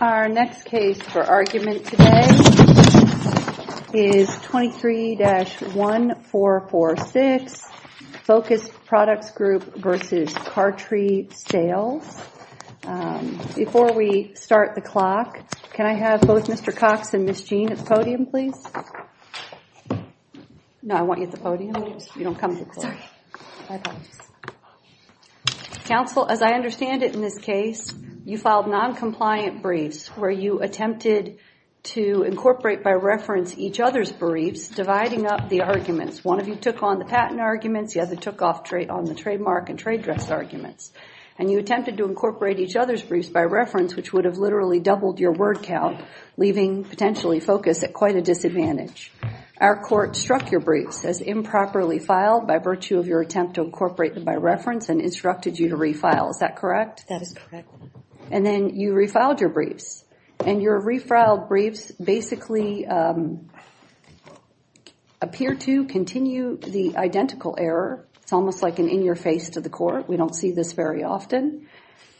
Our next case for argument today is 23-1446, Focused Products Group v. Kartri Sales. Before we start the clock, can I have both Mr. Cox and Ms. Jean at the podium, please? No, I want you at the podium. You don't come to the floor. My apologies. Counsel, as I understand it in this case, you filed non-compliant briefs where you attempted to incorporate by reference each other's briefs, dividing up the arguments. One of you took on the patent arguments, the other took off trade on the trademark and trade dress arguments, and you attempted to incorporate each other's briefs by reference, which would have literally doubled your word count, leaving potentially Focus at quite a disadvantage. Our court struck your briefs as improperly filed by virtue of your attempt to incorporate them by reference and instructed you to refile. Is that correct? That is correct. And then you refiled your briefs, and your refiled briefs basically appear to continue the identical error. It's almost like an in-your-face to the court. We don't see this very often.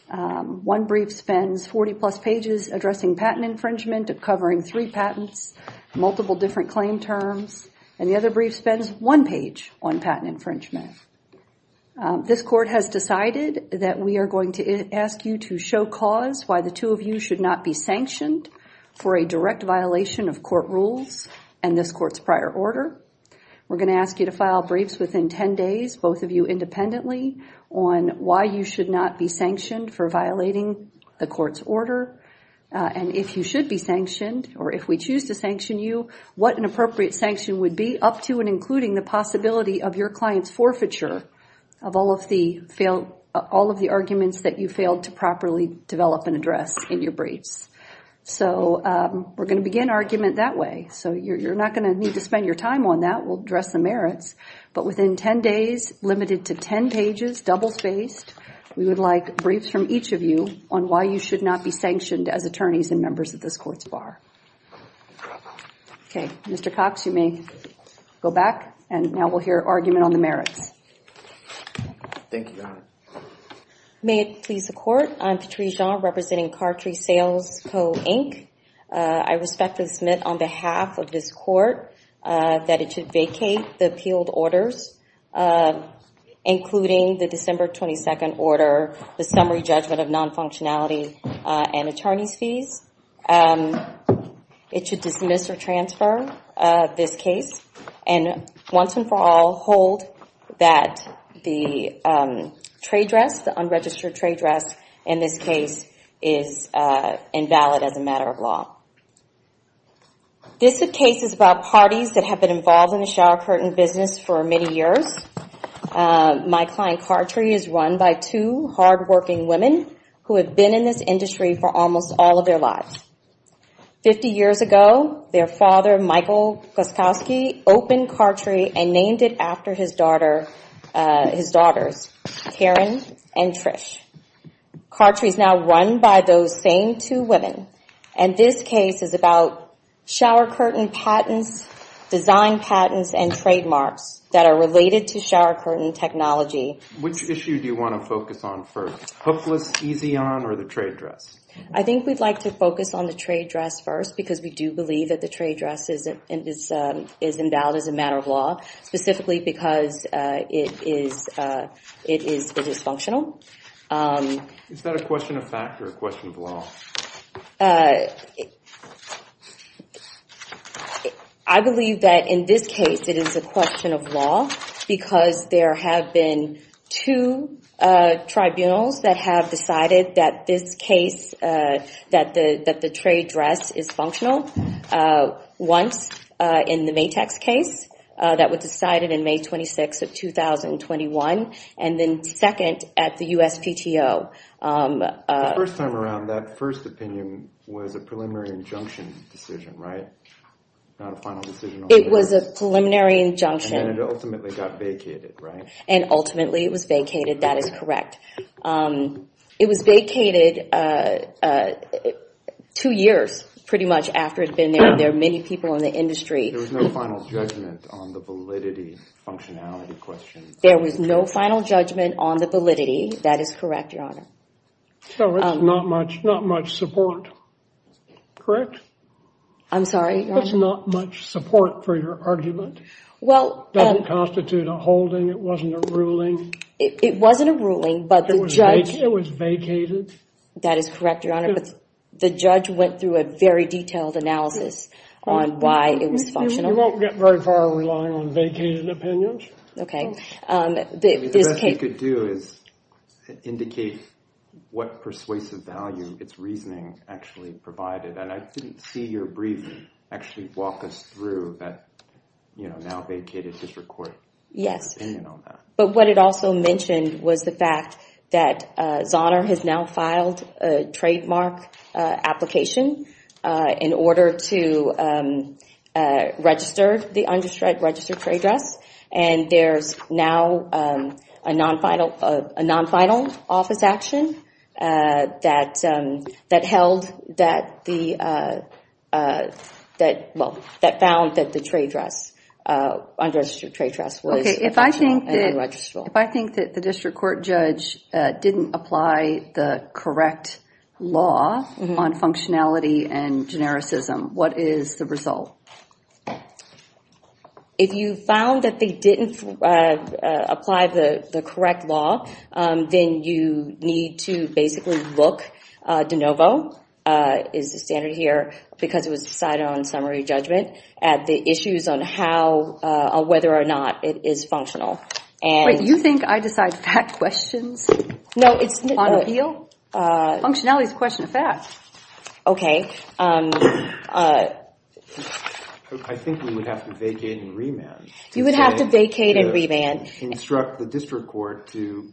One brief spends 40-plus pages addressing patent infringement, covering three patents, multiple different claim terms, and the other brief spends one page on patent infringement. This court has decided that we are going to ask you to show cause why the two of you should not be sanctioned for a direct violation of court rules and this court's prior order. We're going to ask you to file briefs within 10 days, both of you independently, on why you should not be violating the court's order, and if you should be sanctioned, or if we choose to sanction you, what an appropriate sanction would be, up to and including the possibility of your client's forfeiture of all of the arguments that you failed to properly develop and address in your briefs. So we're going to begin our argument that way. You're not going to need to spend your time on that. We'll address the merits. But within 10 days, limited to 10 pages, double-spaced, we would like briefs from each of you on why you should not be sanctioned as attorneys and members of this court's bar. Okay, Mr. Cox, you may go back, and now we'll hear argument on the merits. Thank you, Your Honor. May it please the Court, I'm Patree Jean, representing Cartree Sales Co. Inc. I respectfully submit on behalf of this Court that it should vacate the appealed orders, including the December 22nd order, the summary judgment of non-functionality and attorneys' fees. It should dismiss or transfer this case, and once and for all hold that the trade dress, the unregistered trade dress in this case, is invalid as a matter of law. This case is about parties that have been involved in the shower curtain business for many years. My client, Cartree, is run by two hardworking women who have been in this industry for almost all of their lives. Fifty years ago, their father, Michael Koskowski, opened Cartree and named it after his daughters, Karen and Trish. Cartree is now run by those same two women, and this case is about shower curtain patents, design patents, and trademarks that are related to shower curtain technology. Which issue do you want to focus on first, hopeless, easy on, or the trade dress? I think we'd like to focus on the trade dress first, because we do believe that the trade dress is invalid as a matter of law, specifically because it is dysfunctional. Is that a question of fact or a question of law? I believe that in this case it is a question of law, because there have been two tribunals that have decided that this case, that the trade dress is functional. Once in the Maytax case, that was decided in May 26th of 2021, and then second at the USPTO. First time around, that first opinion was a preliminary injunction decision, right? It was a preliminary injunction. And then it ultimately got vacated, right? And ultimately it was vacated, that is correct. It was vacated two years pretty much after it was finalized. There was no final judgment on the validity, that is correct, Your Honor. So it's not much support, correct? I'm sorry, Your Honor? That's not much support for your argument. Doesn't constitute a holding, it wasn't a ruling. It wasn't a ruling, but the judge... It was vacated. That is correct, Your Honor, but the judge went through a very detailed analysis on why it was functional. You won't get very far relying on vacated opinions. Okay. The best you could do is indicate what persuasive value its reasoning actually provided, and I didn't see your briefing actually walk us through that, you know, now vacated district court opinion on that. Yes, but what it also mentioned was the fact that Zahner has now filed a trademark application in order to register the unregistered trade dress, and there's now a non-final office action that held that the, well, that found that the trade dress, unregistered trade dress was... Okay, if I think that the district court judge didn't apply the correct law on functionality and genericism, what is the result? If you found that they didn't apply the correct law, then you need to basically look, de novo, is the standard here, because it was decided on summary judgment, at the issues on how, whether or not it is functional. Wait, you think I decide fact questions? No, it's... On appeal? Functionality is a question of fact. Okay. I think we would have to vacate and remand. You would have to vacate and remand. Construct the district court to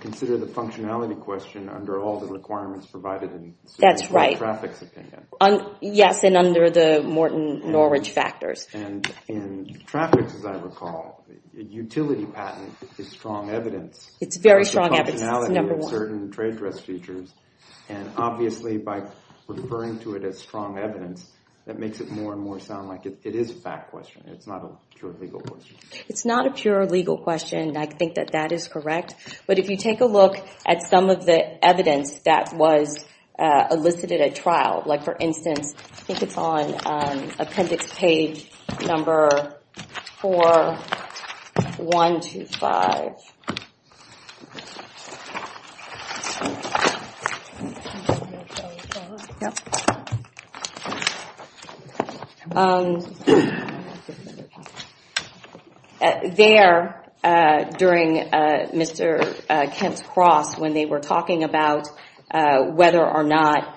consider the functionality question under all the requirements provided in traffic's opinion. That's right. Yes, and under the Morton Norwich factors. In traffic's, as I recall, utility patent is strong evidence. It's very strong evidence. It's number one. Certain trade dress features, and obviously by referring to it as strong evidence, that makes it more and more sound like it is a fact question. It's not a pure legal question. It's not a pure legal question, and I think that that is correct, but if you take a look at some of the evidence that was elicited at trial, like for instance, I think it's on appendix page number four, one to five. There, during Mr. Kent's cross, when they were talking about whether or not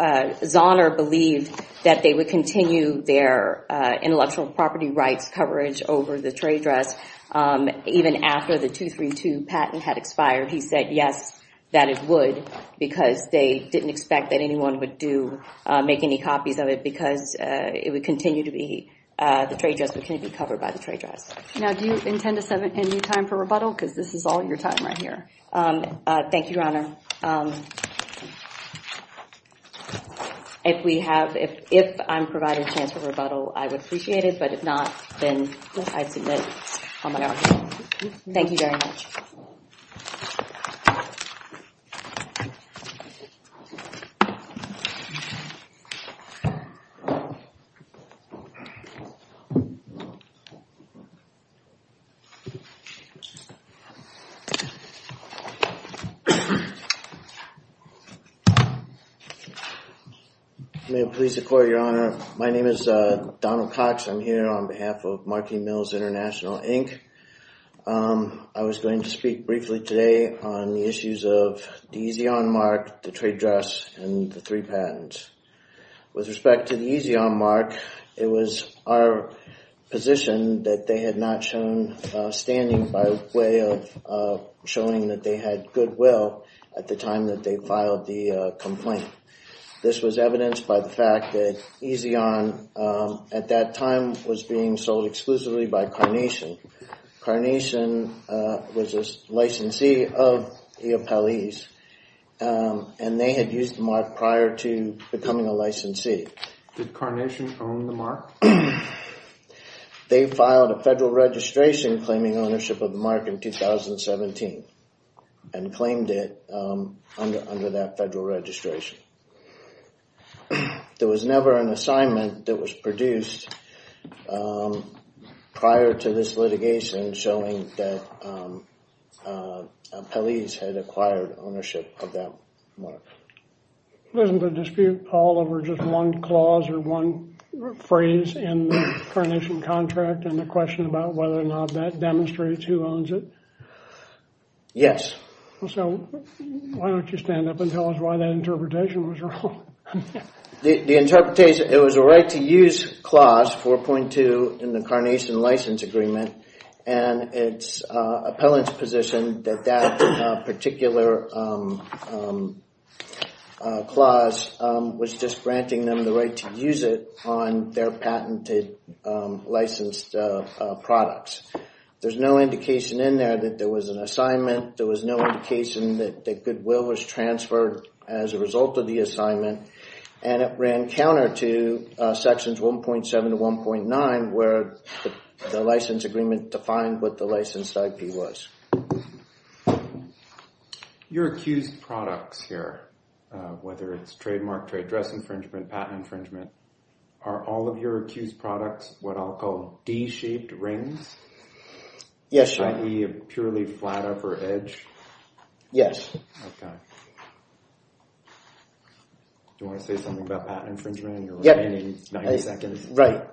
Zahner believed that they would continue their intellectual property rights coverage over the trade dress, even after the 232 patent had expired, he said yes, that it would, because they didn't expect that anyone would do, make any copies of it, because it would continue to be, the trade dress would continue to be covered by the trade dress. Now, do you intend to set any time for rebuttal? Because this is all your time right here. Thank you, Your Honor. If we have, if I'm provided a chance for rebuttal, I would appreciate it, but if not, then I submit on my own. Thank you very much. I may have pleased the court, Your Honor. My name is Donald Cox. I'm here on behalf of Markey Mills International, Inc. I was going to speak briefly today on the issues of the EZON mark, the trade dress, and the three patents. With respect to the EZON mark, it was our position that they had not shown standing by way of showing that they had good will at the time that they filed the complaint. This was evidenced by the fact that EZON, at that time, was being sold exclusively by Carnation. Carnation was a licensee of E. Appelese, and they had used the mark prior to becoming a licensee. Did Carnation own the mark? They filed a federal registration claiming ownership of the mark in 2017, and claimed it under that federal registration. There was never an assignment that was produced prior to this litigation showing that Appelese had acquired ownership of that mark. Wasn't the dispute all over just one clause or one phrase in the Carnation contract and the question about whether or not that demonstrates who owns it? Yes. So why don't you stand up and tell us why that interpretation was wrong? The interpretation, it was a right to use clause 4.2 in the Carnation license agreement, and it's Appelene's position that that particular clause was just granting them the right to use it on their patented licensed products. There's no indication in there that there was an assignment. There was no indication that goodwill was transferred as a result of the assignment, and it ran counter to sections 1.7 to 1.9 where the license agreement defined what the licensed IP was. Okay. Your accused products here, whether it's trademark trade dress infringement, patent infringement, are all of your accused products what I'll call D-shaped rings? Yes, sir. I.e. a purely flat upper edge? Yes. Okay. Do you want to say something about patent infringement? Your remaining 90 seconds? Right.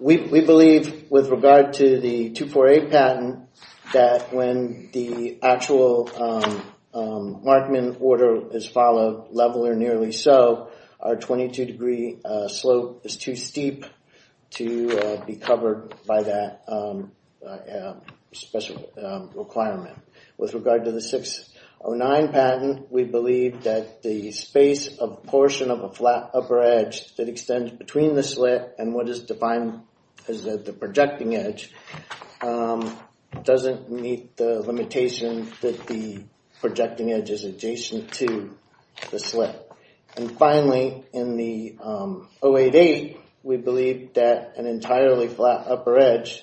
We believe with regard to the 248 patent that when the actual Markman order is followed, level or nearly so, our 22 degree slope is too steep to be covered by that special requirement. With regard to the 609 patent, we believe that the space of portion of a flat upper edge that extends between the slit and what is defined as the projecting edge doesn't meet the limitation that the projecting edge is adjacent to the slit. And finally, in the 088, we believe that an entirely flat upper edge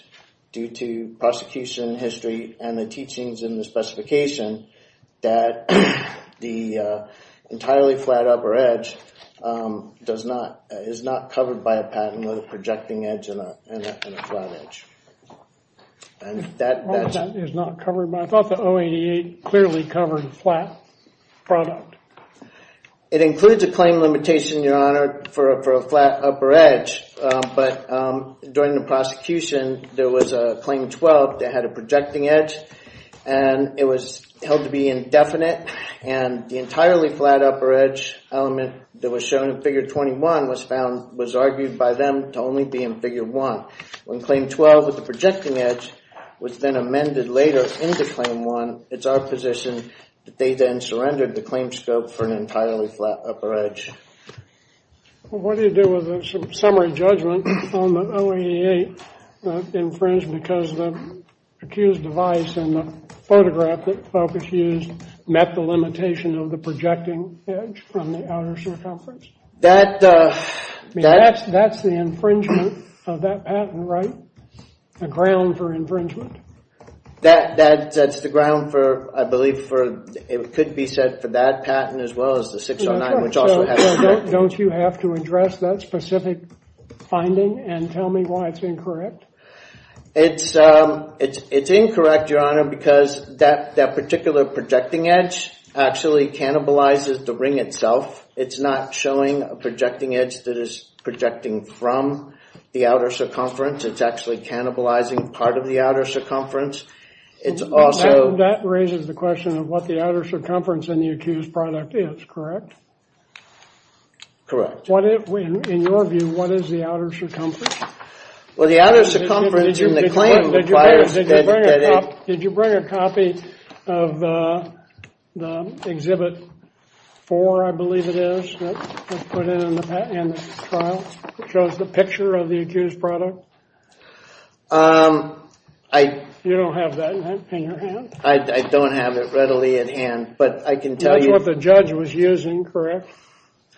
due to prosecution history and the specification that the entirely flat upper edge is not covered by a patent with a projecting edge and a flat edge. I thought the 088 clearly covered flat product. It includes a claim limitation, your honor, for a flat upper edge, but during the prosecution there was a claim 12 that had a projecting edge and it was held to be indefinite and the entirely flat upper edge element that was shown in figure 21 was found, was argued by them to only be in figure one. When claim 12 with the projecting edge was then amended later into claim one, it's our position that they then surrendered the claim scope for an entirely flat upper edge. Well, what do you do with a summary judgment on the 088 infringed because the accused device and the photograph that Fokus used met the limitation of the projecting edge from the outer circumference? That's the infringement of that patent, right? A ground for infringement. That's the ground for, I believe, it could be said for that patent as well as the 609, don't you have to address that specific finding and tell me why it's incorrect? It's incorrect, your honor, because that particular projecting edge actually cannibalizes the ring itself. It's not showing a projecting edge that is projecting from the outer circumference. It's actually cannibalizing part of the outer circumference. That raises the question of what the outer circumference in the accused product is, correct? Correct. What is, in your view, what is the outer circumference? Well, the outer circumference in the claim requires that it... Did you bring a copy of the exhibit four, I believe it is, that was put in the trial, which shows the picture of the accused product? You don't have that in your hand? I don't have it readily at hand, but I can tell you...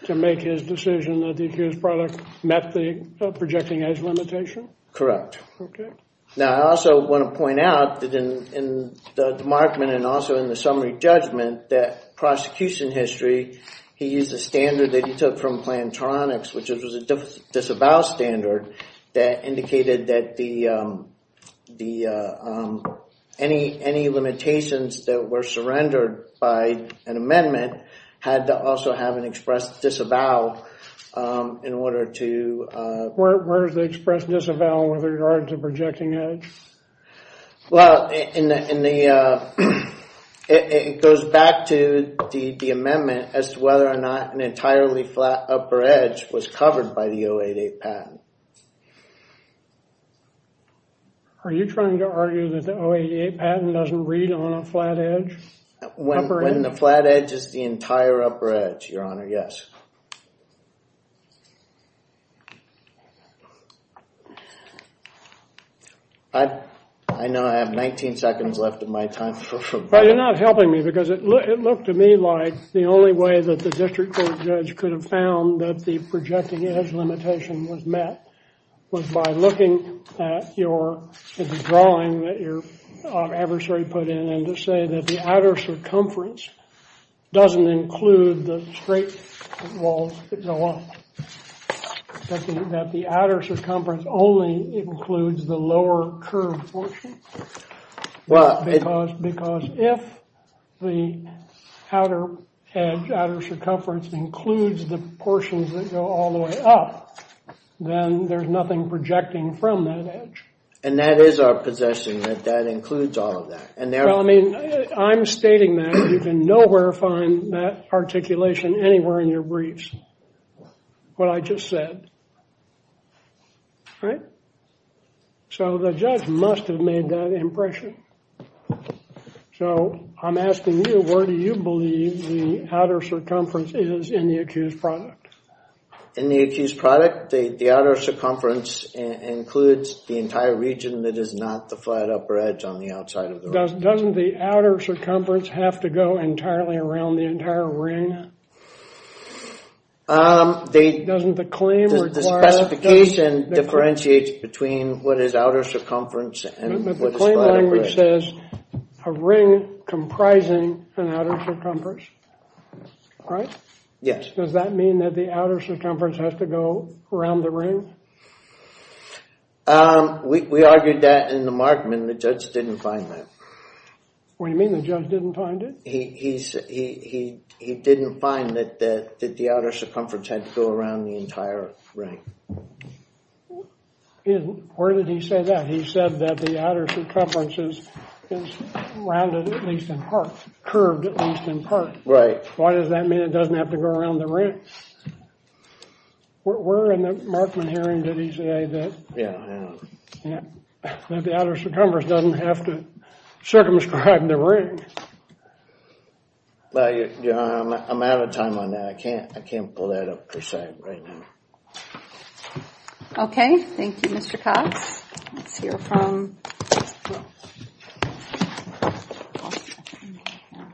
To make his decision that the accused product met the projecting edge limitation? Okay. Now, I also want to point out that in the demarkment and also in the summary judgment that prosecution history, he used a standard that he took from Plantronics, which was a disavow standard that indicated that any limitations that were surrendered by an amendment had to also have an express disavow in order to... Where is the express disavow with regard to projecting edge? Well, it goes back to the amendment as to whether or not an entirely flat upper edge was covered by the 088 patent. Are you trying to argue that the 088 patent doesn't read on a flat edge? When the flat edge is the entire upper edge, Your Honor, yes. I know I have 19 seconds left of my time. You're not helping me because it looked to me like the only way that the district court judge could have found that the projecting edge limitation was met was by looking at your drawing that your adversary put in and to say that the outer circumference doesn't include the straight walls that go up. That the outer circumference only includes the lower curved portion. Because if the outer edge, outer circumference includes the portions that go all the way up, then there's nothing projecting from that edge. And that is our possession that that includes all of that. And I mean, I'm stating that you can nowhere find that articulation anywhere in your briefs. What I just said. Right? So the judge must have made that impression. So I'm asking you, where do you believe the outer circumference is in the accused product? In the accused product, the outer circumference includes the entire region that is not the flat upper edge on the outside of the room. Doesn't the outer circumference have to go entirely around the entire ring? Doesn't the claim require... The specification differentiates between what is outer circumference and what is flat upper edge. But the claim language says a ring comprising an outer circumference. Right? Yes. Does that mean that the outer circumference has to go around the ring? We argued that in the markment. The judge didn't find that. What do you mean the judge didn't find it? He didn't find that the outer circumference had to go around the entire ring. Where did he say that? He said that the outer circumference is rounded at least in part, curved at least in part. Right. Why does that mean it doesn't have to go around the ring? We're in the markment hearing. Did he say that the outer circumference doesn't have to circumscribe the ring? I'm out of time on that. I can't pull that up per se right now. Okay. Thank you, Mr. Cox. Let's hear from...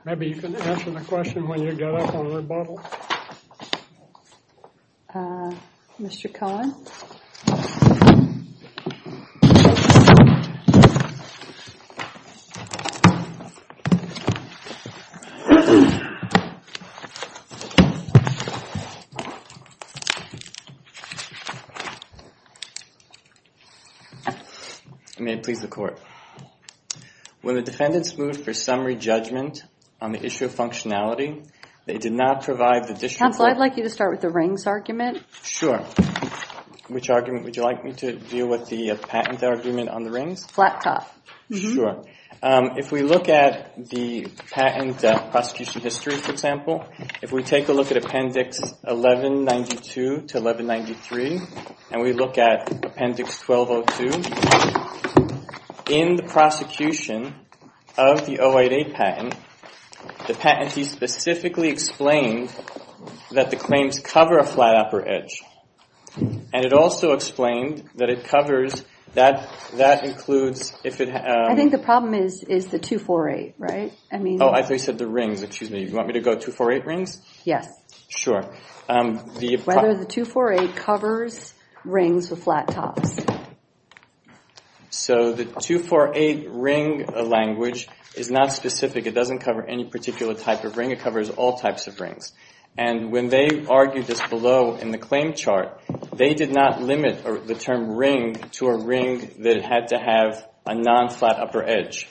Maybe you can answer the question when you get up on the rebuttal. Mr. Cullen? May it please the court. When the defendants moved for summary judgment on the issue of functionality, they did not provide the district court... Counsel, I'd like you to start with the rings argument. Which argument would you like me to deal with the patent argument on the rings? Flat top. Sure. If we look at the patent prosecution history, for example, if we take a look at Appendix 1192 to 1193 and we look at Appendix 1202, in the prosecution of the 08A patent, the patentee specifically explained that the claims cover a flat upper edge and it also explained that it covers... I think the problem is the 248, right? Oh, I thought you said the rings. Excuse me. You want me to go 248 rings? Yes. Whether the 248 covers rings with flat tops. So the 248 ring language is not specific. It doesn't cover any particular type of ring. It covers all types of rings. And when they argued this below in the claim chart, they did not limit the term ring to a ring that had to have a non-flat upper edge.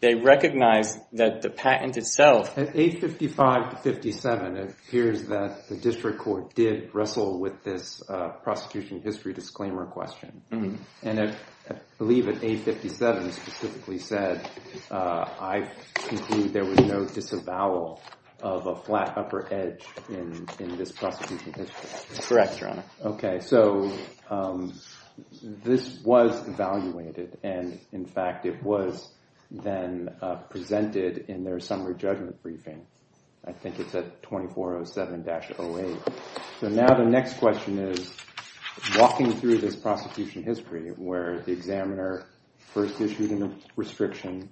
They recognized that the patent itself... At 855-57, it appears that the district court did wrestle with this prosecution history disclaimer question. And I believe at 857 specifically said, I conclude there was no disavowal of a flat upper edge in this prosecution history. Correct, Your Honor. Okay. So this was evaluated and in fact, it was then presented in their summary judgment briefing. I think it's at 2407-08. So now the next question is walking through this prosecution history where the examiner first issued a restriction,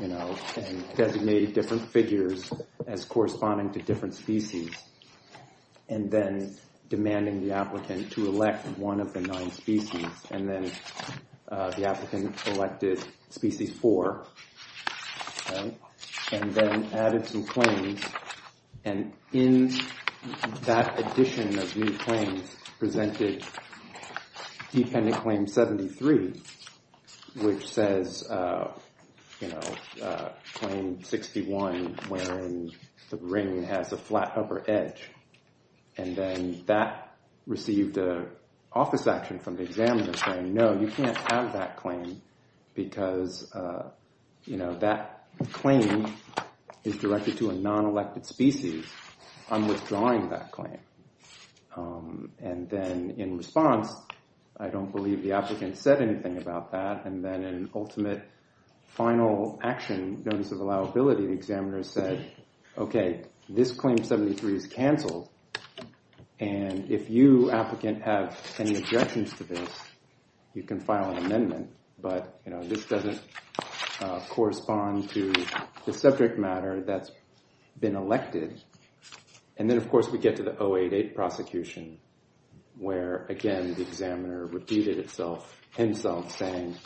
you know, and designated different figures as corresponding to different species. And then demanding the applicant to elect one of the nine species. And then the applicant selected species four. And then added some claims. And in that addition of new claims presented dependent claim 73, which says, you know, claim 61, wherein the ring has a flat upper edge. And then that received an office action from the examiner saying, no, you can't have that claim because, you know, that claim is directed to a non-elected species. I'm withdrawing that claim. And then in response, I don't believe the applicant said anything about that. And then an ultimate final action notice of allowability, the examiner said, okay, this claim 73 is canceled. And if you, applicant, have any objections to this, you can file an amendment. But, you know, this doesn't correspond to the subject matter that's been elected. And then, of course, we get to the 088 prosecution, where, again, the examiner repeated himself saying,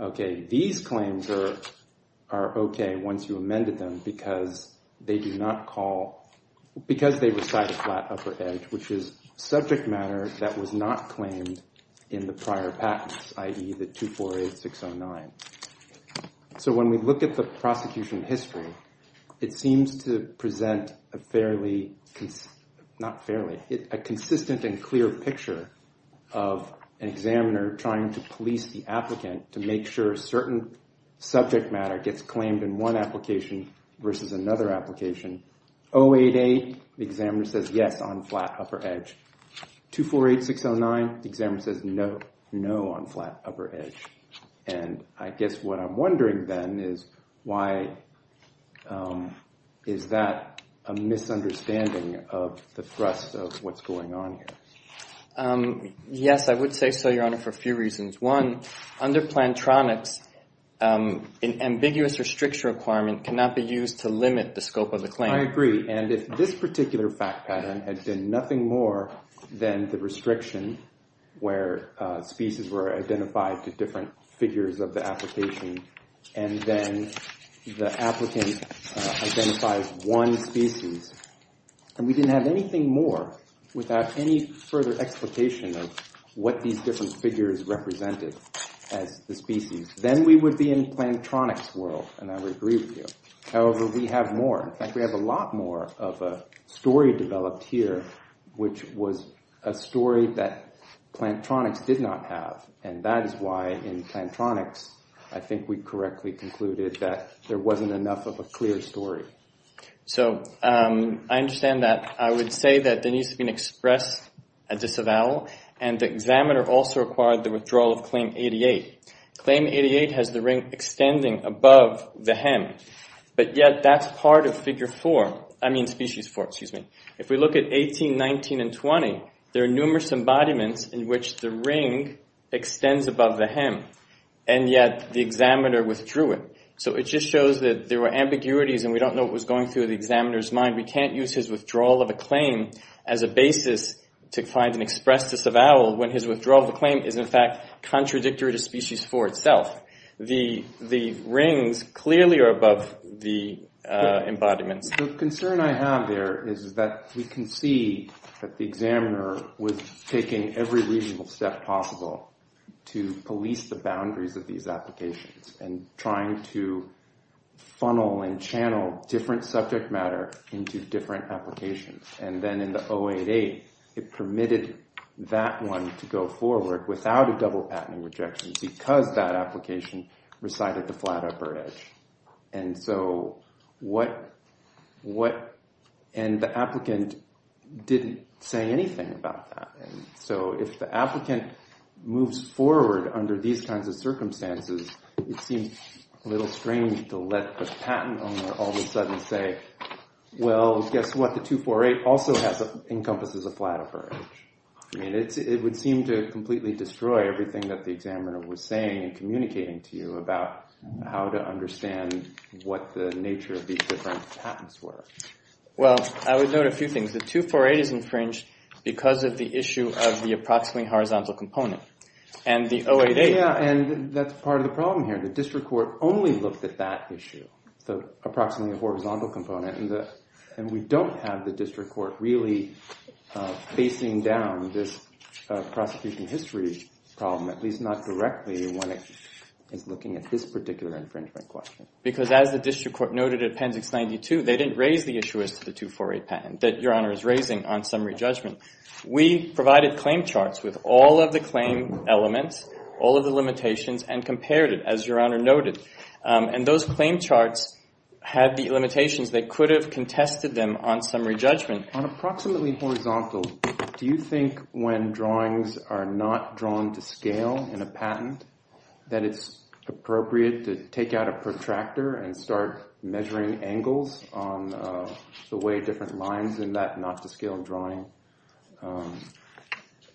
okay, these claims are okay once you amended them, because they do not call, because they recite a flat upper edge, which is subject matter that was not claimed in the prior patents, i.e., the 248609. So when we look at the prosecution history, it seems to present a fairly, not fairly, a consistent and clear picture of an examiner trying to police the applicant to make sure certain subject matter gets claimed in one application versus another application. 088, the examiner says, yes, on flat upper edge. 248609, the examiner says, no, no, on flat upper edge. And I guess what I'm wondering, then, is why, is that a misunderstanding of the thrust of what's going on here? Yes, I would say so, Your Honor, for a few reasons. One, under Plantronics, an ambiguous restriction requirement cannot be used to limit the scope of the claim. I agree. And if this particular fact pattern had been nothing more than the restriction where species were identified to different figures of the application, and then the applicant identifies one species, and we didn't have anything more without any further explication of what these different figures represented as the species, then we would be in Plantronics' world, and I would agree with you. However, we have more. In fact, we have a lot more of a story developed here, which was a story that Plantronics did not have. And that is why, in Plantronics, I think we correctly concluded that there wasn't enough of a clear story. So, I understand that. I would say that there needs to be an express disavowal, and the examiner also required the withdrawal of Claim 88. Claim 88 has the ring extending above the hem, but yet that's part of Figure 4. I mean, Species 4, excuse me. If we look at 18, 19, and 20, there are numerous embodiments in which the ring extends above the hem, and yet the examiner withdrew it. So, it just shows that there were ambiguities, and we don't know what was going through the examiner's mind. We can't use his withdrawal of a claim as a basis to find an express disavowal when his withdrawal of a claim is, in fact, contradictory to Species 4 itself. The rings clearly are above the embodiments. The concern I have there is that we can see that the examiner was taking every reasonable step possible to police the boundaries of these applications, and trying to funnel and channel different subject matter into different applications. And then in the 088, it permitted that one to go forward without a double patent rejection because that application recited the flat upper edge. And so, what... And the applicant didn't say anything about that. And so, if the applicant moves forward under these kinds of circumstances, it seems a little strange to let the patent owner all of a sudden say, well, guess what? The 248 also encompasses a flat upper edge. I mean, it would seem to completely destroy everything that the examiner was saying and communicating to you about how to understand what the nature of these different patents were. Well, I would note a few things. The 248 is infringed because of the issue of the approximately horizontal component. And the 088... Yeah, and that's part of the problem here. The district court only looked at that issue, the approximately horizontal component. And we don't have the district court really facing down this prosecution history problem, at least not directly when it is looking at this particular infringement question. Because as the district court noted at Appendix 92, they didn't raise the issue as to the 248 patent that Your Honor is raising on summary judgment. We provided claim charts with all of the claim elements, all of the limitations, and compared it, as Your Honor noted. And those claim charts had the limitations that could have contested them on summary judgment. On approximately horizontal, do you think when drawings are not drawn to scale in a patent that it's appropriate to take out a protractor and start measuring angles on the way different lines in that not to scale drawing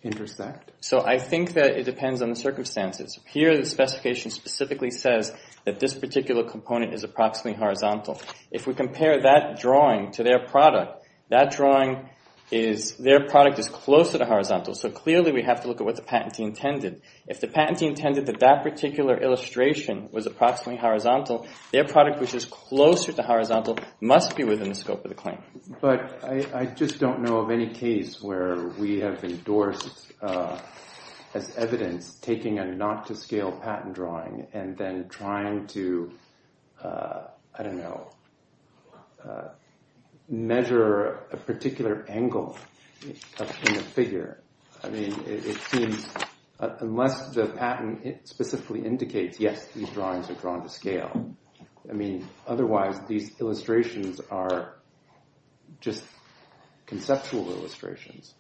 intersect? So I think that it depends on the circumstances. Here, the specification specifically says that this particular component is approximately horizontal. If we compare that drawing to their product, that drawing is, their product is closer to horizontal. So clearly we have to look at what the patentee intended. If the patentee intended that that particular illustration was approximately horizontal, their product, which is closer to horizontal, must be within the scope of the claim. But I just don't know of any case where we have endorsed as evidence taking a not to scale patent drawing and then trying to, I don't know, measure a particular angle in the figure. I mean, it seems, unless the patent specifically indicates, yes, these drawings are drawn to scale. I mean, otherwise, these illustrations are just conceptual illustrations.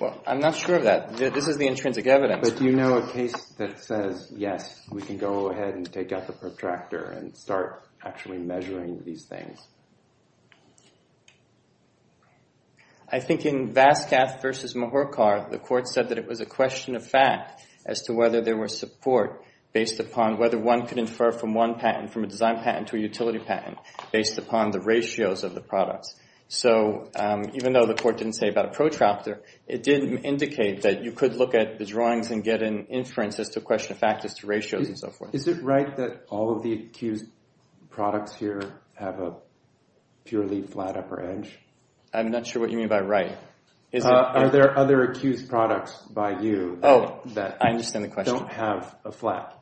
Well, I'm not sure of that. This is the intrinsic evidence. But do you know a case that says, yes, we can go ahead and take out the protractor and start actually measuring these things? I think in Vasquez versus Muhorkar, the court said that it was a question of fact as to whether there were support based upon whether one could infer from one patent, from a design patent to a utility patent, based upon the ratios of the products. So even though the court didn't say about a protractor, it didn't indicate that you could look at the drawings and get an inference as to a question of fact as to ratios and so forth. Is it right that all of the accused products here have a purely flat upper edge? I'm not sure what you mean by right. Are there other accused products by you? Oh, I understand the question. That don't have a flat,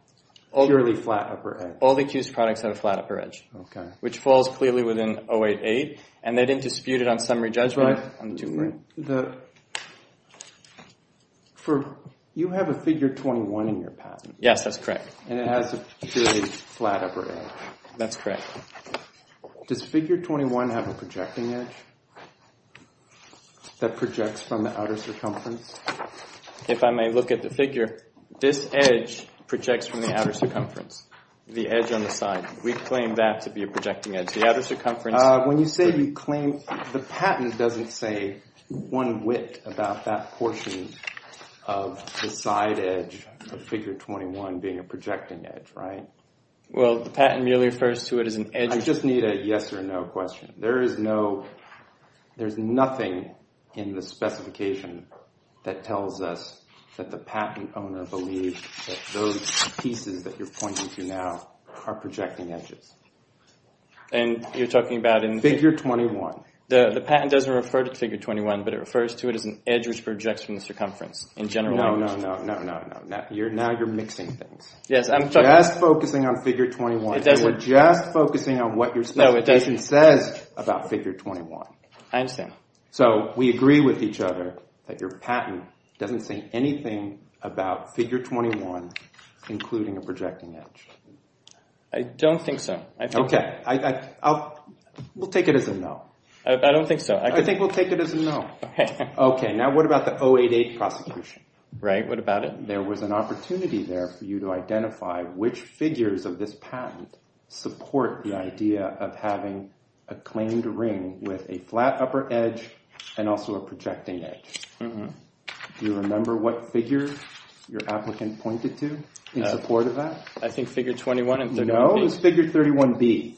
purely flat upper edge? All the accused products have a flat upper edge. OK. Which falls clearly within 08-8. And they didn't dispute it on summary judgment. You have a figure 21 in your patent. Yes, that's correct. And it has a purely flat upper edge. That's correct. Does figure 21 have a projecting edge that projects from the outer circumference? If I may look at the figure, this edge projects from the outer circumference. The edge on the side. We claim that to be a projecting edge. The outer circumference... When you say you claim, the patent doesn't say one whit about that portion of the side edge of figure 21 being a projecting edge, right? Well, the patent merely refers to it as an edge... I just need a yes or no question. There is no... There's nothing in the specification that tells us that the patent owner believes that those pieces that you're pointing to now are projecting edges. And you're talking about in... Figure 21. The patent doesn't refer to figure 21, but it refers to it as an edge which projects from the circumference in general. No, no, no, no, no, no. Now you're mixing things. Yes, I'm talking... Just focusing on figure 21. We're just focusing on what your specification says about figure 21. I understand. So we agree with each other that your patent doesn't say anything about figure 21 including a projecting edge. I don't think so. I think... Okay, I'll... We'll take it as a no. I don't think so. I think we'll take it as a no. Okay, now what about the 088 prosecution? Right, what about it? There was an opportunity there for you to identify which figures of this patent support the idea of having a claimed ring with a flat upper edge and also a projecting edge. Do you remember what figure your applicant pointed to in support of that? I think figure 21 and... No, it was figure 31B.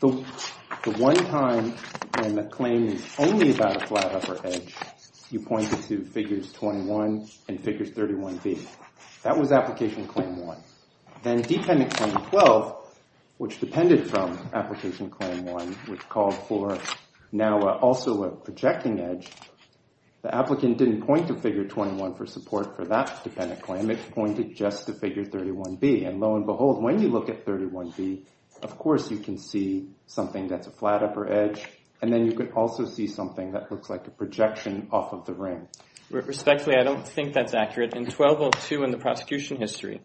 The one time when the claim was only about a flat upper edge, you pointed to figures 21 and figures 31B. That was application claim 1. Then dependent claim 12, which depended from application claim 1, which called for now also a projecting edge, the applicant didn't point to figure 21 for support for that dependent claim. It pointed just to figure 31B. And lo and behold, when you look at 31B, of course, you can see something that's a flat upper edge. And then you could also see something that looks like a projection off of the ring. Respectfully, I don't think that's accurate. In 1202 in the prosecution history,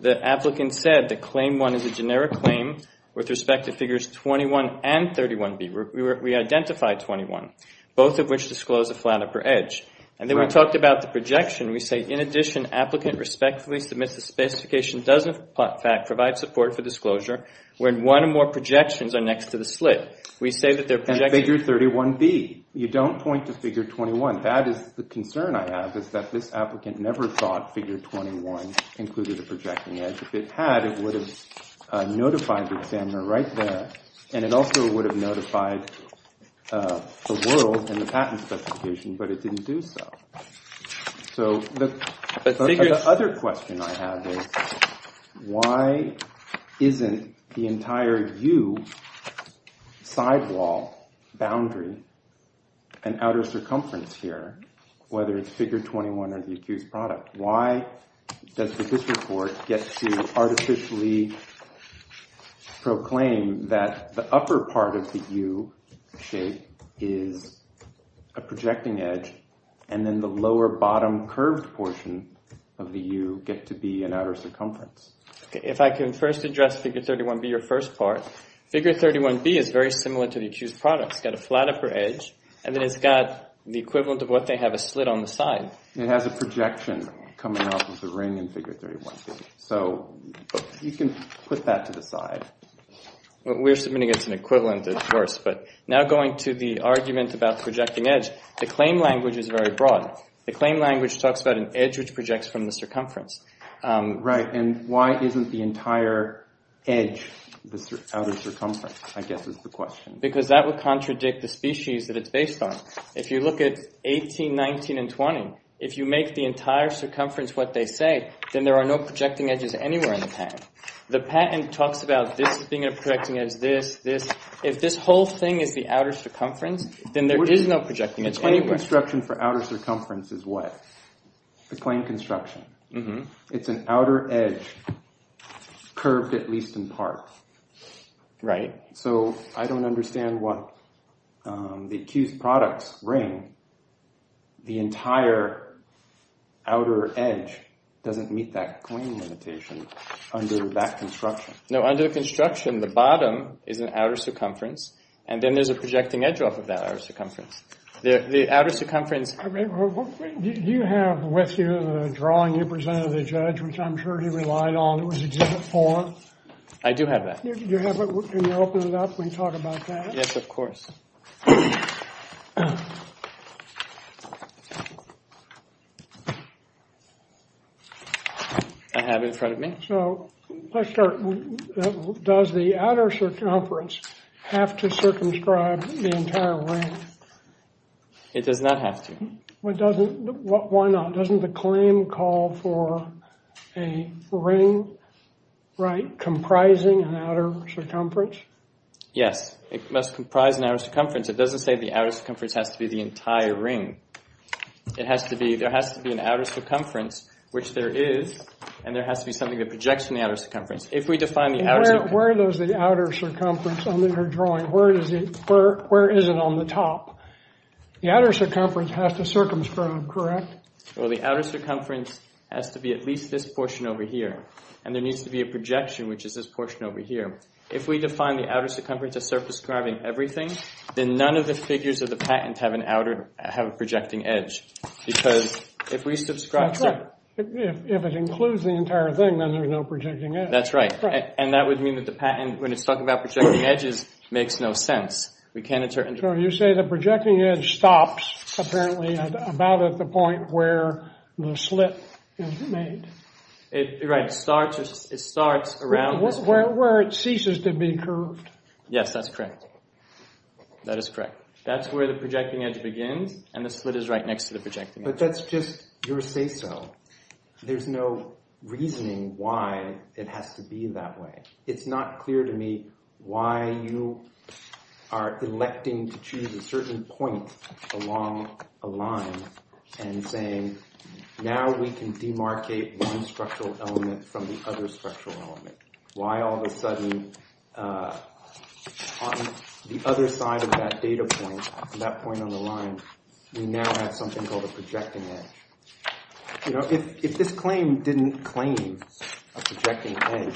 the applicant said that claim 1 is a generic claim with respect to figures 21 and 31B. We identified 21, both of which disclose a flat upper edge. And then we talked about the projection. We say, in addition, applicant respectfully submits the specification doesn't, in fact, provide support for disclosure when one or more projections are next to the slit. We say that they're projected. And figure 31B, you don't point to figure 21. That is the concern I have, is that this applicant never thought figure 21 included a projecting edge. If it had, it would have notified the examiner right there. And it also would have notified the world in the patent specification, but it didn't do so. So the other question I have is, why isn't the entire U sidewall boundary and outer circumference here, whether it's figure 21 or the accused product? Why does the district court get to artificially proclaim that the upper part of the U shape is a projecting edge and then the lower bottom curved portion of the U get to be an outer circumference? Okay, if I can first address figure 31B, your first part. Figure 31B is very similar to the accused product. It's got a flat upper edge and then it's got the equivalent of what they have a slit on the side. It has a projection coming off of the ring in figure 31B. So you can put that to the side. We're submitting it's an equivalent, of course, but now going to the argument about projecting edge, the claim language is very broad. The claim language talks about an edge which projects from the circumference. Right, and why isn't the entire edge the outer circumference, I guess is the question. Because that would contradict the species that it's based on. If you look at 18, 19, and 20, if you make the entire circumference what they say, then there are no projecting edges anywhere in the patent. The patent talks about this being a projecting edge, this, this. If this whole thing is the outer circumference, then there is no projecting edge anywhere. The claim construction for outer circumference is what? The claim construction. It's an outer edge curved at least in part. Right. So I don't understand what the accused products ring. The entire outer edge doesn't meet that claim limitation under that construction. No, under construction, the bottom is an outer circumference and then there's a projecting edge off of that outer circumference. The outer circumference... I mean, do you have with you the drawing you presented to the judge, which I'm sure he relied on. It was exhibit four. I do have that. Do you have it? Can you open it up? We can talk about that. Yes, of course. I have it in front of me. So let's start. Does the outer circumference have to circumscribe the entire ring? It does not have to. Why not? Doesn't the claim call for a ring, right, comprising an outer circumference? Yes, it must comprise an outer circumference. It doesn't say the outer circumference has to be the entire ring. It has to be, there has to be an outer circumference, which there is, and there has to be something that projects from the outer circumference. If we define the outer... Where does the outer circumference under your drawing, where is it on the top? The outer circumference has to circumscribe, correct? Well, the outer circumference has to be at least this portion over here, and there needs to be a projection, which is this portion over here. If we define the outer circumference as circumscribing everything, then none of the figures of the patent have an outer, have a projecting edge, because if we subscribe... If it includes the entire thing, then there's no projecting edge. That's right. And that would mean that the patent, when it's talking about projecting edges, makes no sense. We can't determine... So you say the projecting edge stops, apparently, about at the point where the slit is made. Right, it starts around... Where it ceases to be curved. Yes, that's correct. That is correct. That's where the projecting edge begins, and the slit is right next to the projecting edge. But that's just your say-so. There's no reasoning why it has to be that way. It's not clear to me why you are electing to choose a certain point along a line and saying, now we can demarcate one structural element from the other structural element. Why all of a sudden, on the other side of that data point, that point on the line, we now have something called a projecting edge. You know, if this claim didn't claim a projecting edge,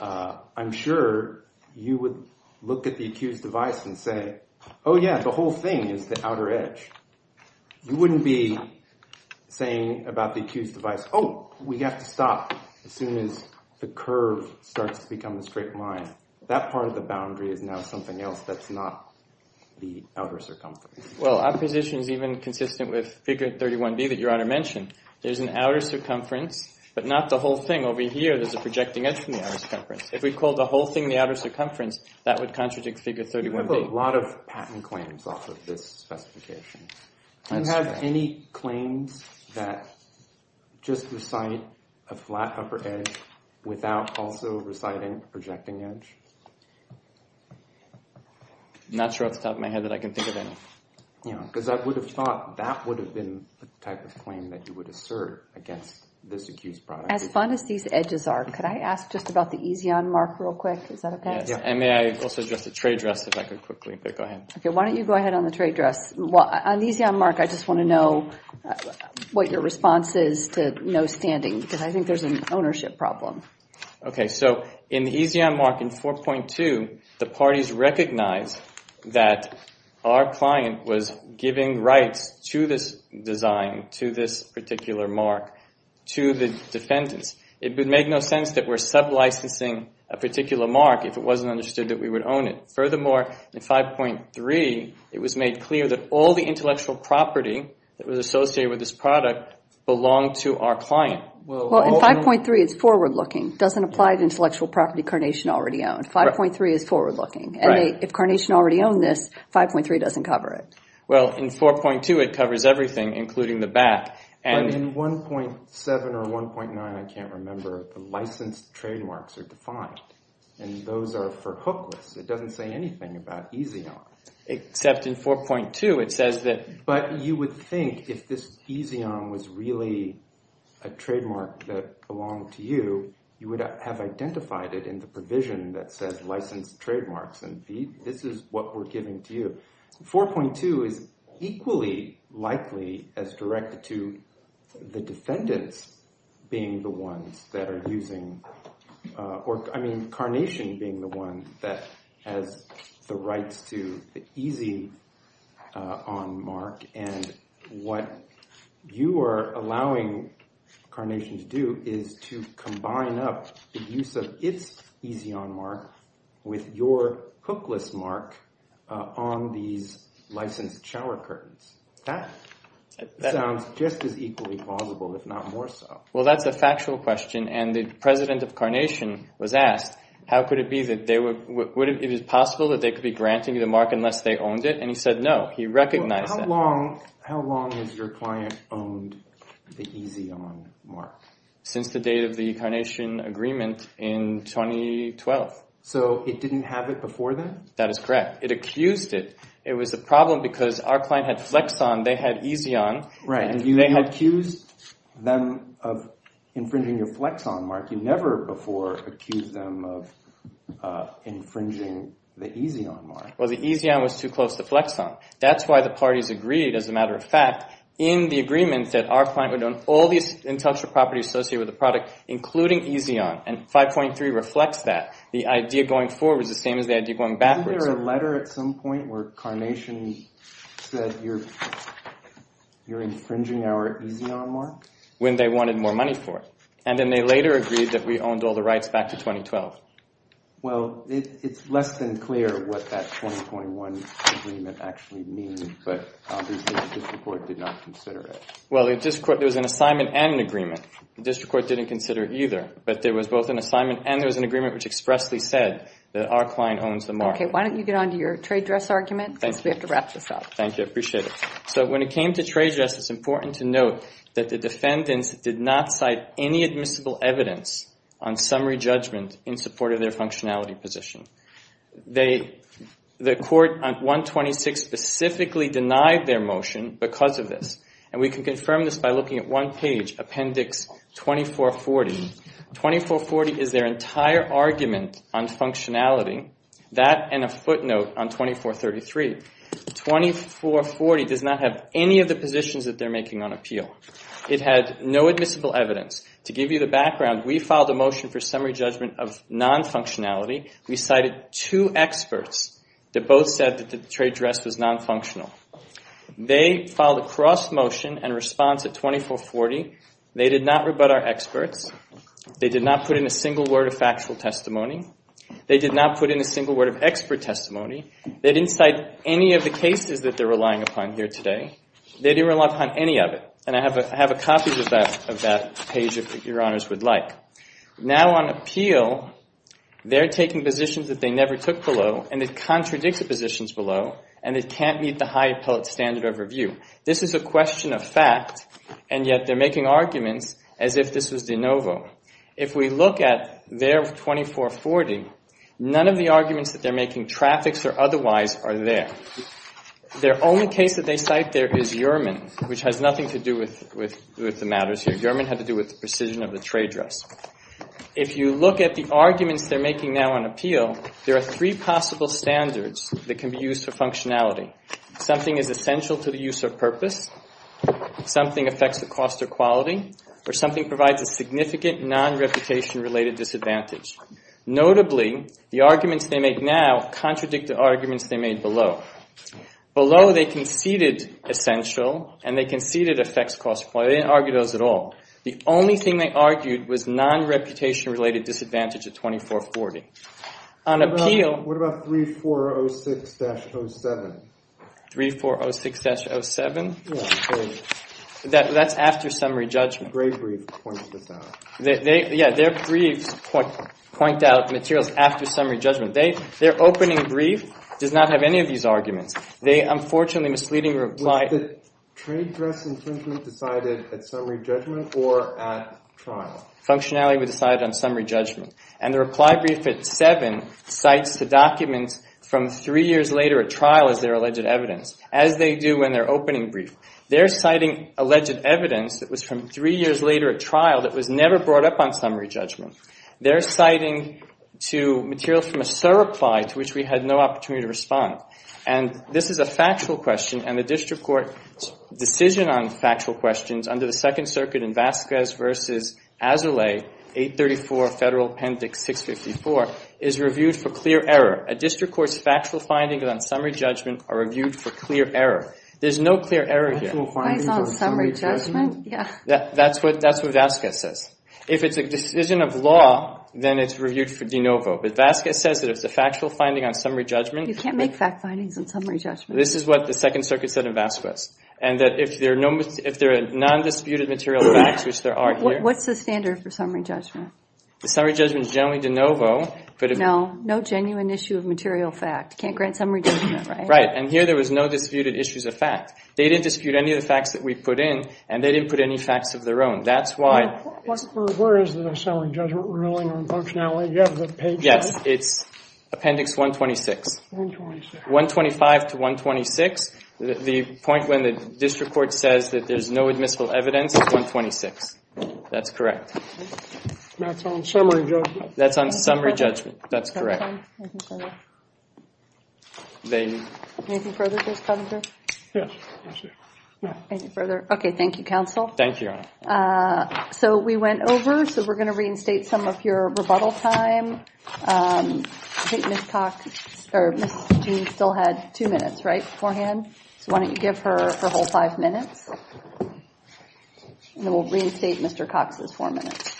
I'm sure you would look at the accused device and say, oh yeah, the whole thing is the outer edge. You wouldn't be saying about the accused device, oh, we have to stop as soon as the curve starts to become a straight line. That part of the boundary is now something else that's not the outer circumference. Well, our position is even consistent with Figure 31b that Your Honor mentioned. There's an outer circumference, but not the whole thing. Over here, there's a projecting edge If we called the whole thing the outer circumference, that would contradict Figure 31b. We put a lot of patent claims off of this specification. Do you have any claims that just recite a flat upper edge without also reciting a projecting edge? Not sure off the top of my head that I can think of any. Because I would have thought that would have been the type of claim that you would assert against this accused product. As fun as these edges are, could I ask just about the EZON mark real quick? Is that okay? And may I also address the trade dress if I could quickly? Go ahead. Why don't you go ahead on the trade dress? On the EZON mark, I just want to know what your response is to no standing, because I think there's an ownership problem. Okay, so in the EZON mark in 4.2, the parties recognize that our client was giving rights to this design, to this particular mark, to the defendants. It would make no sense that we're sub-licensing a particular mark if it wasn't understood that we would own it. Furthermore, in 5.3, it was made clear that all the intellectual property that was associated with this product belonged to our client. Well, in 5.3, it's forward-looking. It doesn't apply to intellectual property Carnation already owned. 5.3 is forward-looking. And if Carnation already owned this, 5.3 doesn't cover it. Well, in 4.2, it covers everything, including the back. But in 1.7 or 1.9, I can't remember, the licensed trademarks are defined. And those are for hook lists. It doesn't say anything about EZON. Except in 4.2, it says that... But you would think if this EZON was really a trademark that belonged to you, you would have identified it in the provision that says licensed trademarks. And this is what we're giving to you. 4.2 is equally likely as directed to the defendants being the ones that are using... I mean, Carnation being the one that has the rights to the EZON mark. And what you are allowing Carnation to do is to combine up the use of its EZON mark with your hook list mark on these licensed shower curtains. That sounds just as equally plausible, if not more so. Well, that's a factual question. And the president of Carnation was asked, how could it be that they were... Would it be possible that they could be granting you the mark unless they owned it? And he said, no. He recognized that. How long has your client owned the EZON mark? Since the date of the Carnation agreement in 2012. So it didn't have it before then? That is correct. It accused it. It was a problem because our client had Flexon. They had EZON. Right. And you accused... them of infringing your Flexon mark. You never before accused them of infringing the EZON mark. Well, the EZON was too close to Flexon. That's why the parties agreed, as a matter of fact, in the agreement that our client would own all these intellectual properties associated with the product, including EZON. And 5.3 reflects that. The idea going forward is the same as the idea going backwards. Isn't there a letter at some point where Carnation said, you're infringing our EZON mark? When they wanted more money for it. And then they later agreed that we owned all the rights back to 2012. Well, it's less than clear what that 2021 agreement actually means, but obviously the district court did not consider it. Well, there was an assignment and an agreement. The district court didn't consider it either, but there was both an assignment and there was an agreement which expressly said that our client owns the mark. Okay, why don't you get on to your trade dress argument since we have to wrap this up. Thank you, I appreciate it. So when it came to trade dress, it's important to note that the defendants did not cite any admissible evidence on summary judgment in support of their functionality position. The court on 126 specifically denied their motion because of this. And we can confirm this by looking at one page, appendix 2440. 2440 is their entire argument on functionality. That and a footnote on 2433. 2440 does not have any of the positions that they're making on appeal. It had no admissible evidence. To give you the background, we filed a motion for summary judgment of non-functionality. We cited two experts that both said that the trade dress was non-functional. They filed a cross motion and response at 2440. They did not rebut our experts. They did not put in a single word of factual testimony. They did not put in a single word of expert testimony. They didn't cite any of the cases that they're relying upon here today. They didn't rely upon any of it. And I have a copy of that page, if your honors would like. Now on appeal, they're taking positions that they never took below and it contradicts the positions below and it can't meet the high appellate standard of review. This is a question of fact and yet they're making arguments as if this was de novo. If we look at their 2440, none of the arguments that they're making traffics or otherwise are there. Their only case that they cite there is Uriman, which has nothing to do with the matters here. Uriman had to do with the precision of the trade dress. If you look at the arguments they're making now on appeal, there are three possible standards that can be used for functionality. Something is essential to the use of purpose, something affects the cost or quality, or something provides a significant non-reputation related disadvantage. Notably, the arguments they make now contradict the arguments they made below. Below, they conceded essential and they conceded affects cost quality. They didn't argue those at all. The only thing they argued was non-reputation related disadvantage at 2440. On appeal... What about 3406-07? 3406-07? That's after summary judgment. Gray brief points this out. Yeah, their briefs point out materials after summary judgment. Their opening brief does not have any of these arguments. They, unfortunately, misleadingly reply... Was the trade dress intention decided at summary judgment or at trial? Functionality was decided on summary judgment. And the reply brief at 7 cites the documents from three years later at trial as their alleged evidence, as they do when they're opening brief. They're citing alleged evidence that was from three years later at trial that was never brought up on summary judgment. They're citing to materials from a SIR reply to which we had no opportunity to respond. And this is a factual question. And the district court's decision on factual questions under the Second Circuit in Vasquez v. Azoulay, 834 Federal Appendix 654 is reviewed for clear error. A district court's factual findings on summary judgment are reviewed for clear error. There's no clear error here. Factual findings on summary judgment? That's what Vasquez says. If it's a decision of law, then it's reviewed for de novo. But Vasquez says that if it's a factual finding on summary judgment... You can't make fact findings on summary judgment. This is what the Second Circuit said in Vasquez. And that if there are nondisputed material facts, which there are here... What's the standard for summary judgment? The summary judgment is generally de novo. No, no genuine issue of material fact. Can't grant summary judgment, right? Right. And here there was no disputed issues of fact. They didn't dispute any of the facts that we put in and they didn't put any facts of their own. That's why... Where is the summary judgment ruling on functionality? Yes, it's appendix 126. 125 to 126. The point when the district court says that there's no admissible evidence is 126. That's correct. That's on summary judgment. That's on summary judgment. That's correct. Thank you, counsel. Thank you, Your Honor. So we went over. So we're going to reinstate some of your rebuttal time. I think Ms. Cox or Ms. Jean still had two minutes, right? Beforehand. So why don't you give her her whole five minutes? And then we'll reinstate Mr. Cox's four minutes.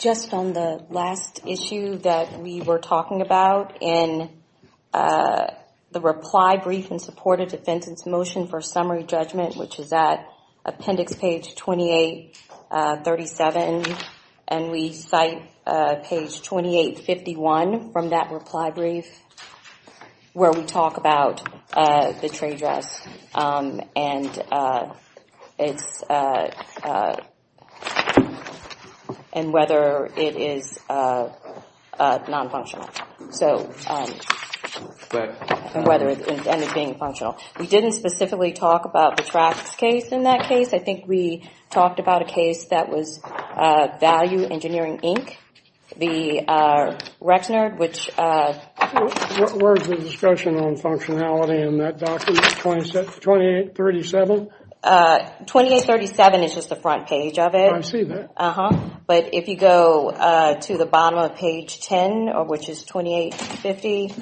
Just from the last issue that we were talking about in the reply brief in support of defense's motion for summary judgment, which is at appendix page 2837. And we cite page 2851 from that reply brief where we talk about the district and whether it is non-functional. So whether it's being functional. We didn't specifically talk about the tracks case in that case. I think we talked about a case that was Value Engineering, Inc. The Rexner, which. Where's the discussion on functionality in that document, 2837? 2837 is just the front page of it. Oh, I see that. Uh-huh. But if you go to the bottom of page 10, which is 2850.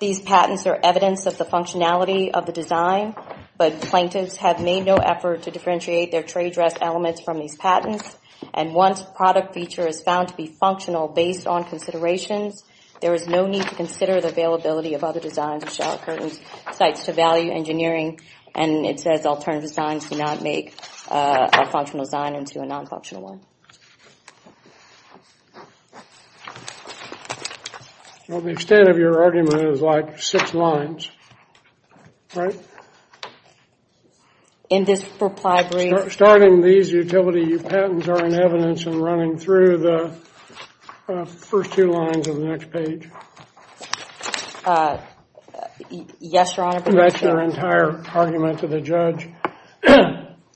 These patents are evidence of the functionality of the design. But plaintiffs have made no effort to differentiate their trade dress elements from these patents. And once product feature is found to be functional based on considerations, there is no need to consider the availability of other designs or shower curtains. Cites to Value Engineering. And it says alternative designs do not make a functional design into a non-functional one. Well, the extent of your argument is like six lines. Right? In this reply brief. Starting these utility patents are in evidence and running through the first two lines of the next page. Uh, yes, Your Honor. That's your entire argument to the judge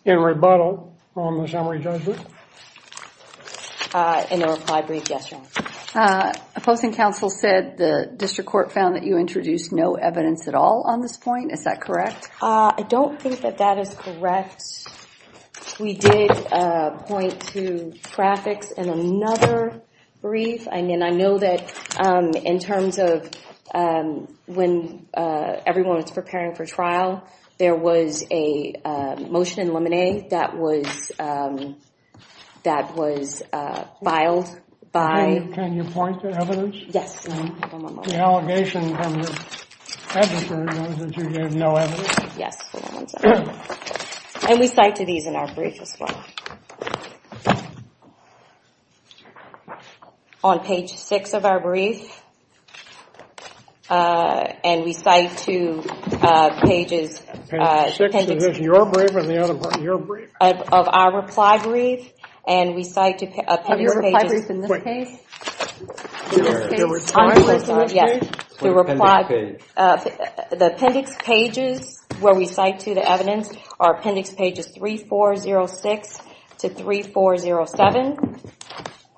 in rebuttal on the summary judgment? In the reply brief, yes, Your Honor. Uh, opposing counsel said the district court found that you introduced no evidence at all on this point. Is that correct? Uh, I don't think that that is correct. We did, uh, point to graphics in another brief. I mean, I know that, um, in terms of, um, when, uh, everyone's preparing for trial, there was a, uh, motion in lemonade that was, um, that was, uh, filed by... Can you point to evidence? Yes, Your Honor. The allegation from the adviser was that you gave no evidence? Yes. And we cite to these in our brief as well. On page six of our brief, uh, and we cite to, uh, pages... Page six of your brief or the other part of your brief? Of our reply brief, and we cite to... Of your reply brief in this case? In this case. The reply brief? Yes. The reply... The appendix pages where we cite to the evidence are appendix pages 3406 to 3407.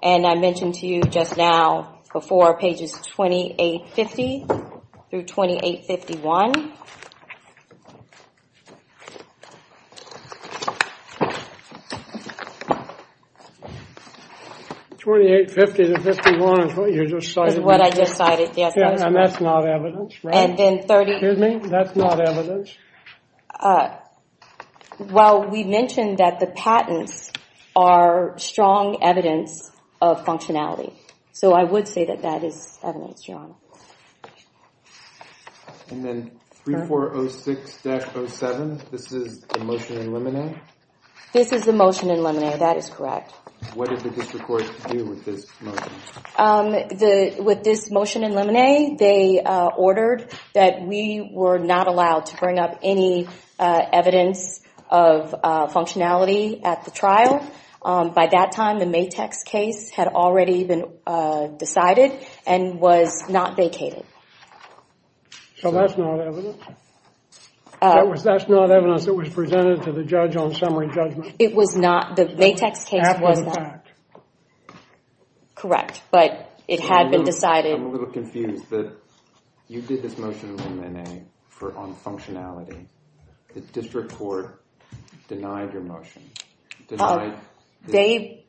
And I mentioned to you just now before, pages 2850 through 2851. 2850 to 51 is what you just cited. Is what I just cited, yes. And that's not evidence, right? And then 30... Excuse me? That's not evidence? Well, we mentioned that the patents are strong evidence of functionality. So I would say that that is evidence, Your Honor. And then 3406-07, this is the motion in limine? This is the motion in limine. That is correct. What did the district court do with this motion? With this motion in limine, they ordered that we were not allowed to bring up any evidence of functionality at the trial. By that time, the Matex case had already been decided and was not vacated. So that's not evidence? That's not evidence that was presented to the judge on summary judgment? It was not. The Matex case was not. Correct. But it had been decided... I'm a little confused that you did this motion in limine on functionality. The district court denied your motion. Denied? They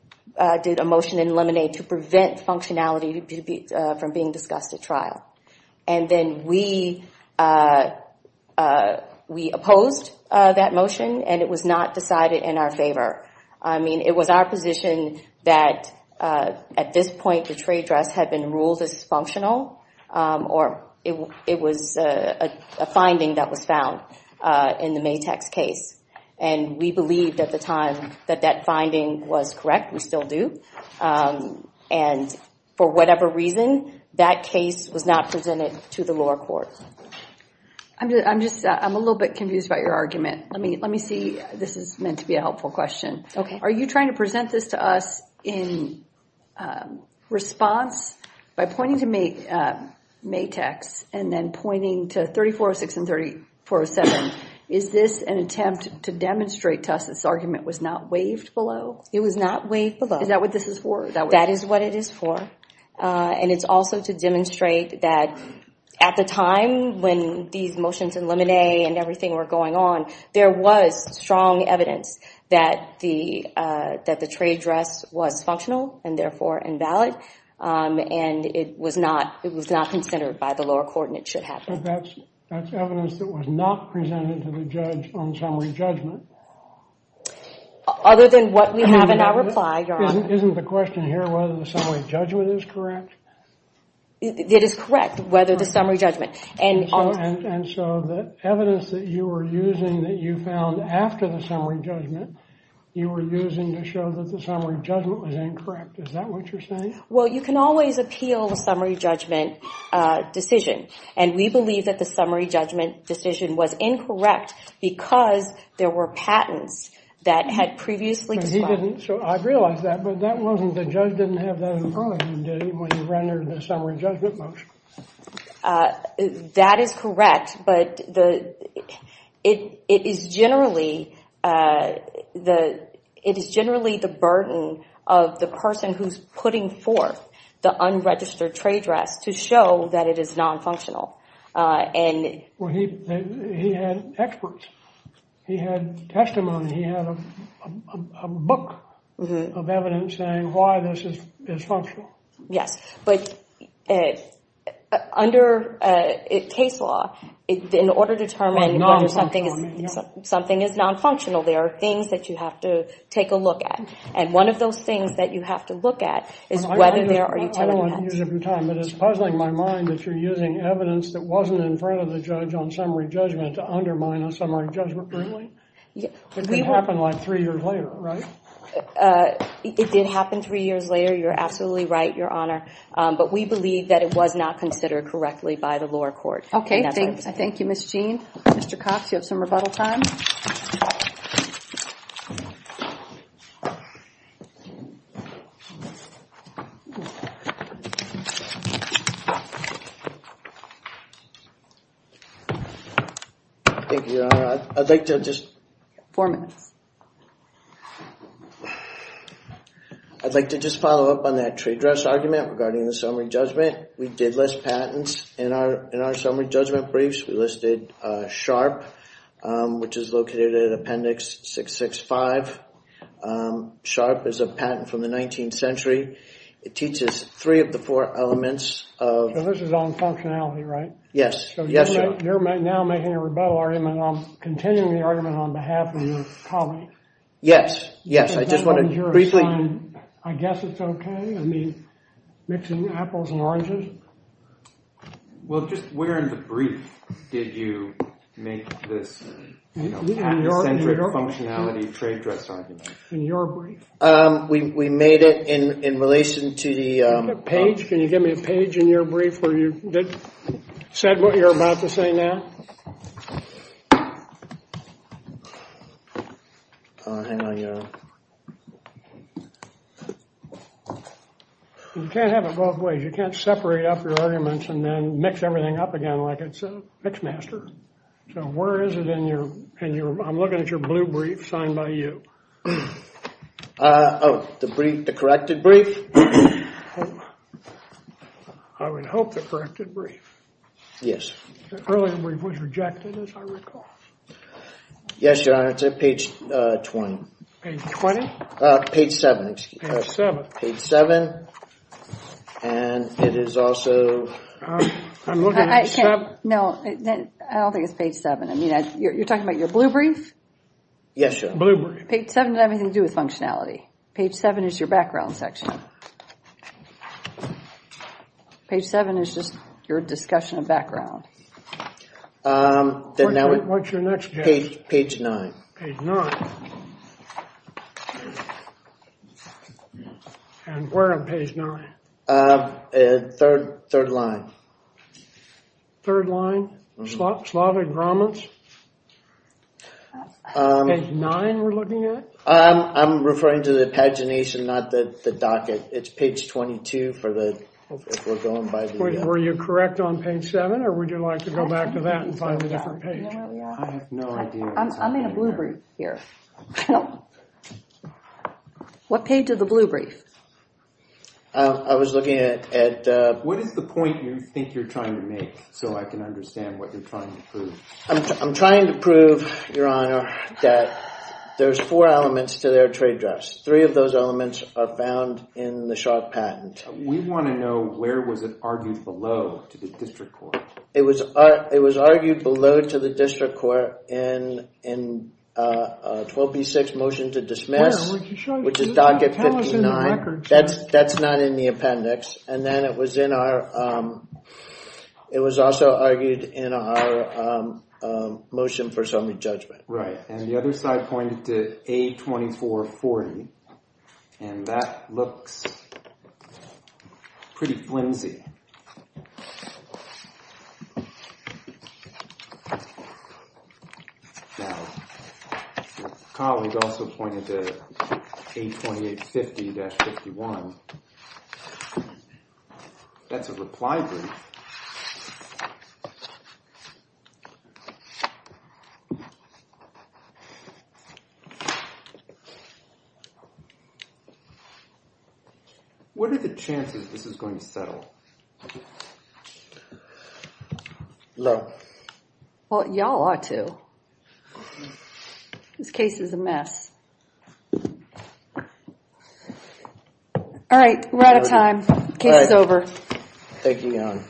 did a motion in limine to prevent functionality from being discussed at trial. And then we opposed that motion and it was not decided in our favor. I mean, it was our position that at this point, the trade dress had been ruled dysfunctional or it was a finding that was found in the Matex case. And we believed at the time that that finding was correct. We still do. And for whatever reason, that case was not presented to the lower court. I'm just... I'm a little bit confused about your argument. Let me see. This is meant to be a helpful question. Are you trying to present this to us in response by pointing to Matex and then pointing to 3406 and 3407? Is this an attempt to demonstrate to us that this argument was not waived below? It was not waived below. Is that what this is for? That is what it is for. And it's also to demonstrate that at the time when these motions in limine and everything were going on, there was strong evidence that the trade dress was functional and therefore invalid. And it was not considered by the lower court and it should happen. So that's evidence that was not presented to the judge on summary judgment. Other than what we have in our reply, Your Honor. Isn't the question here whether the summary judgment is correct? It is correct, whether the summary judgment... And so the evidence that you were using that you found after the summary judgment, you were using to show that the summary judgment was incorrect. Is that what you're saying? Well, you can always appeal the summary judgment decision. And we believe that the summary judgment decision was incorrect because there were patents that had previously... But he didn't. So I realize that. But that wasn't... The judge didn't have that in front of him, did he? When he rendered the summary judgment motion. That is correct. But it is generally... It is generally the burden of the person who's putting forth the unregistered trade dress to show that it is non-functional. And... He had experts. He had testimony. He had a book of evidence saying why this is functional. Yes, but under case law, in order to determine whether something is non-functional, there are things that you have to take a look at. And one of those things that you have to look at is whether there are... I don't want to use up your time, but it's puzzling my mind that you're using evidence that wasn't in front of the judge on summary judgment to undermine a summary judgment ruling. It didn't happen like three years later, right? It did happen three years later. You're absolutely right, Your Honor. But we believe that it was not considered correctly by the lower court. OK, thank you, Ms. Jean. Mr. Cox, you have some rebuttal time. Thank you, Your Honor. I'd like to just... Four minutes. I'd like to just follow up on that trade dress argument regarding the summary judgment. We did list patents in our summary judgment briefs. We listed SHARP, which is located at Appendix 665. SHARP is a patent from the 19th century. It teaches three of the four elements of... This is on functionality, right? Yes, yes, Your Honor. You're now making a rebuttal argument on continuing the argument on behalf of your colleague. Yes, yes. I just want to briefly... I guess it's OK. I mean, mixing apples and oranges. Well, just where in the brief did you make this patent-centric functionality trade dress argument? In your brief. We made it in relation to the... Can you get me a page? In your brief where you did... Said what you're about to say now. Oh, hang on, Your Honor. You can't have it both ways. You can't separate up your arguments and then mix everything up again like it's a PIXMASTER. So where is it in your... In your... I'm looking at your blue brief signed by you. Oh, the brief... The corrected brief? I would hope the corrected brief. The earlier brief was rejected, as I recall. Yes, Your Honor. It's at page 20. Page 20? Page 7, excuse me. Page 7. Page 7. And it is also... I'm looking at 7. No, I don't think it's page 7. I mean, you're talking about your blue brief? Yes, Your Honor. Blue brief. Page 7 doesn't have anything to do with functionality. Page 7 is your background section. Page 7 is just your discussion of background. What's your next page? Page 9. Page 9. And where on page 9? Third line. Third line? Slavic Romans? Page 9 we're looking at? I'm referring to the pagination, not the docket. It's page 22 for the... We're going by the... Were you correct on page 7, or would you like to go back to that and find a different page? I have no idea. I'm in a blue brief here. What page of the blue brief? I was looking at... What is the point you think you're trying to make so I can understand what you're trying to prove? I'm trying to prove, Your Honor, that there's four elements to their trade drafts. Three of those elements are found in the Sharpe patent. We want to know, where was it argued below to the district court? It was argued below to the district court in 12B6, motion to dismiss, which is docket 59. That's not in the appendix. And then it was also argued in our motion for summary judgment. Right. And the other side pointed to A2440. And that looks pretty flimsy. Now, your colleague also pointed to A2850-51. That's a reply brief. What are the chances this is going to settle? Low. Well, y'all are too. This case is a mess. All right, we're out of time. Case is over. Thank you, Your Honor.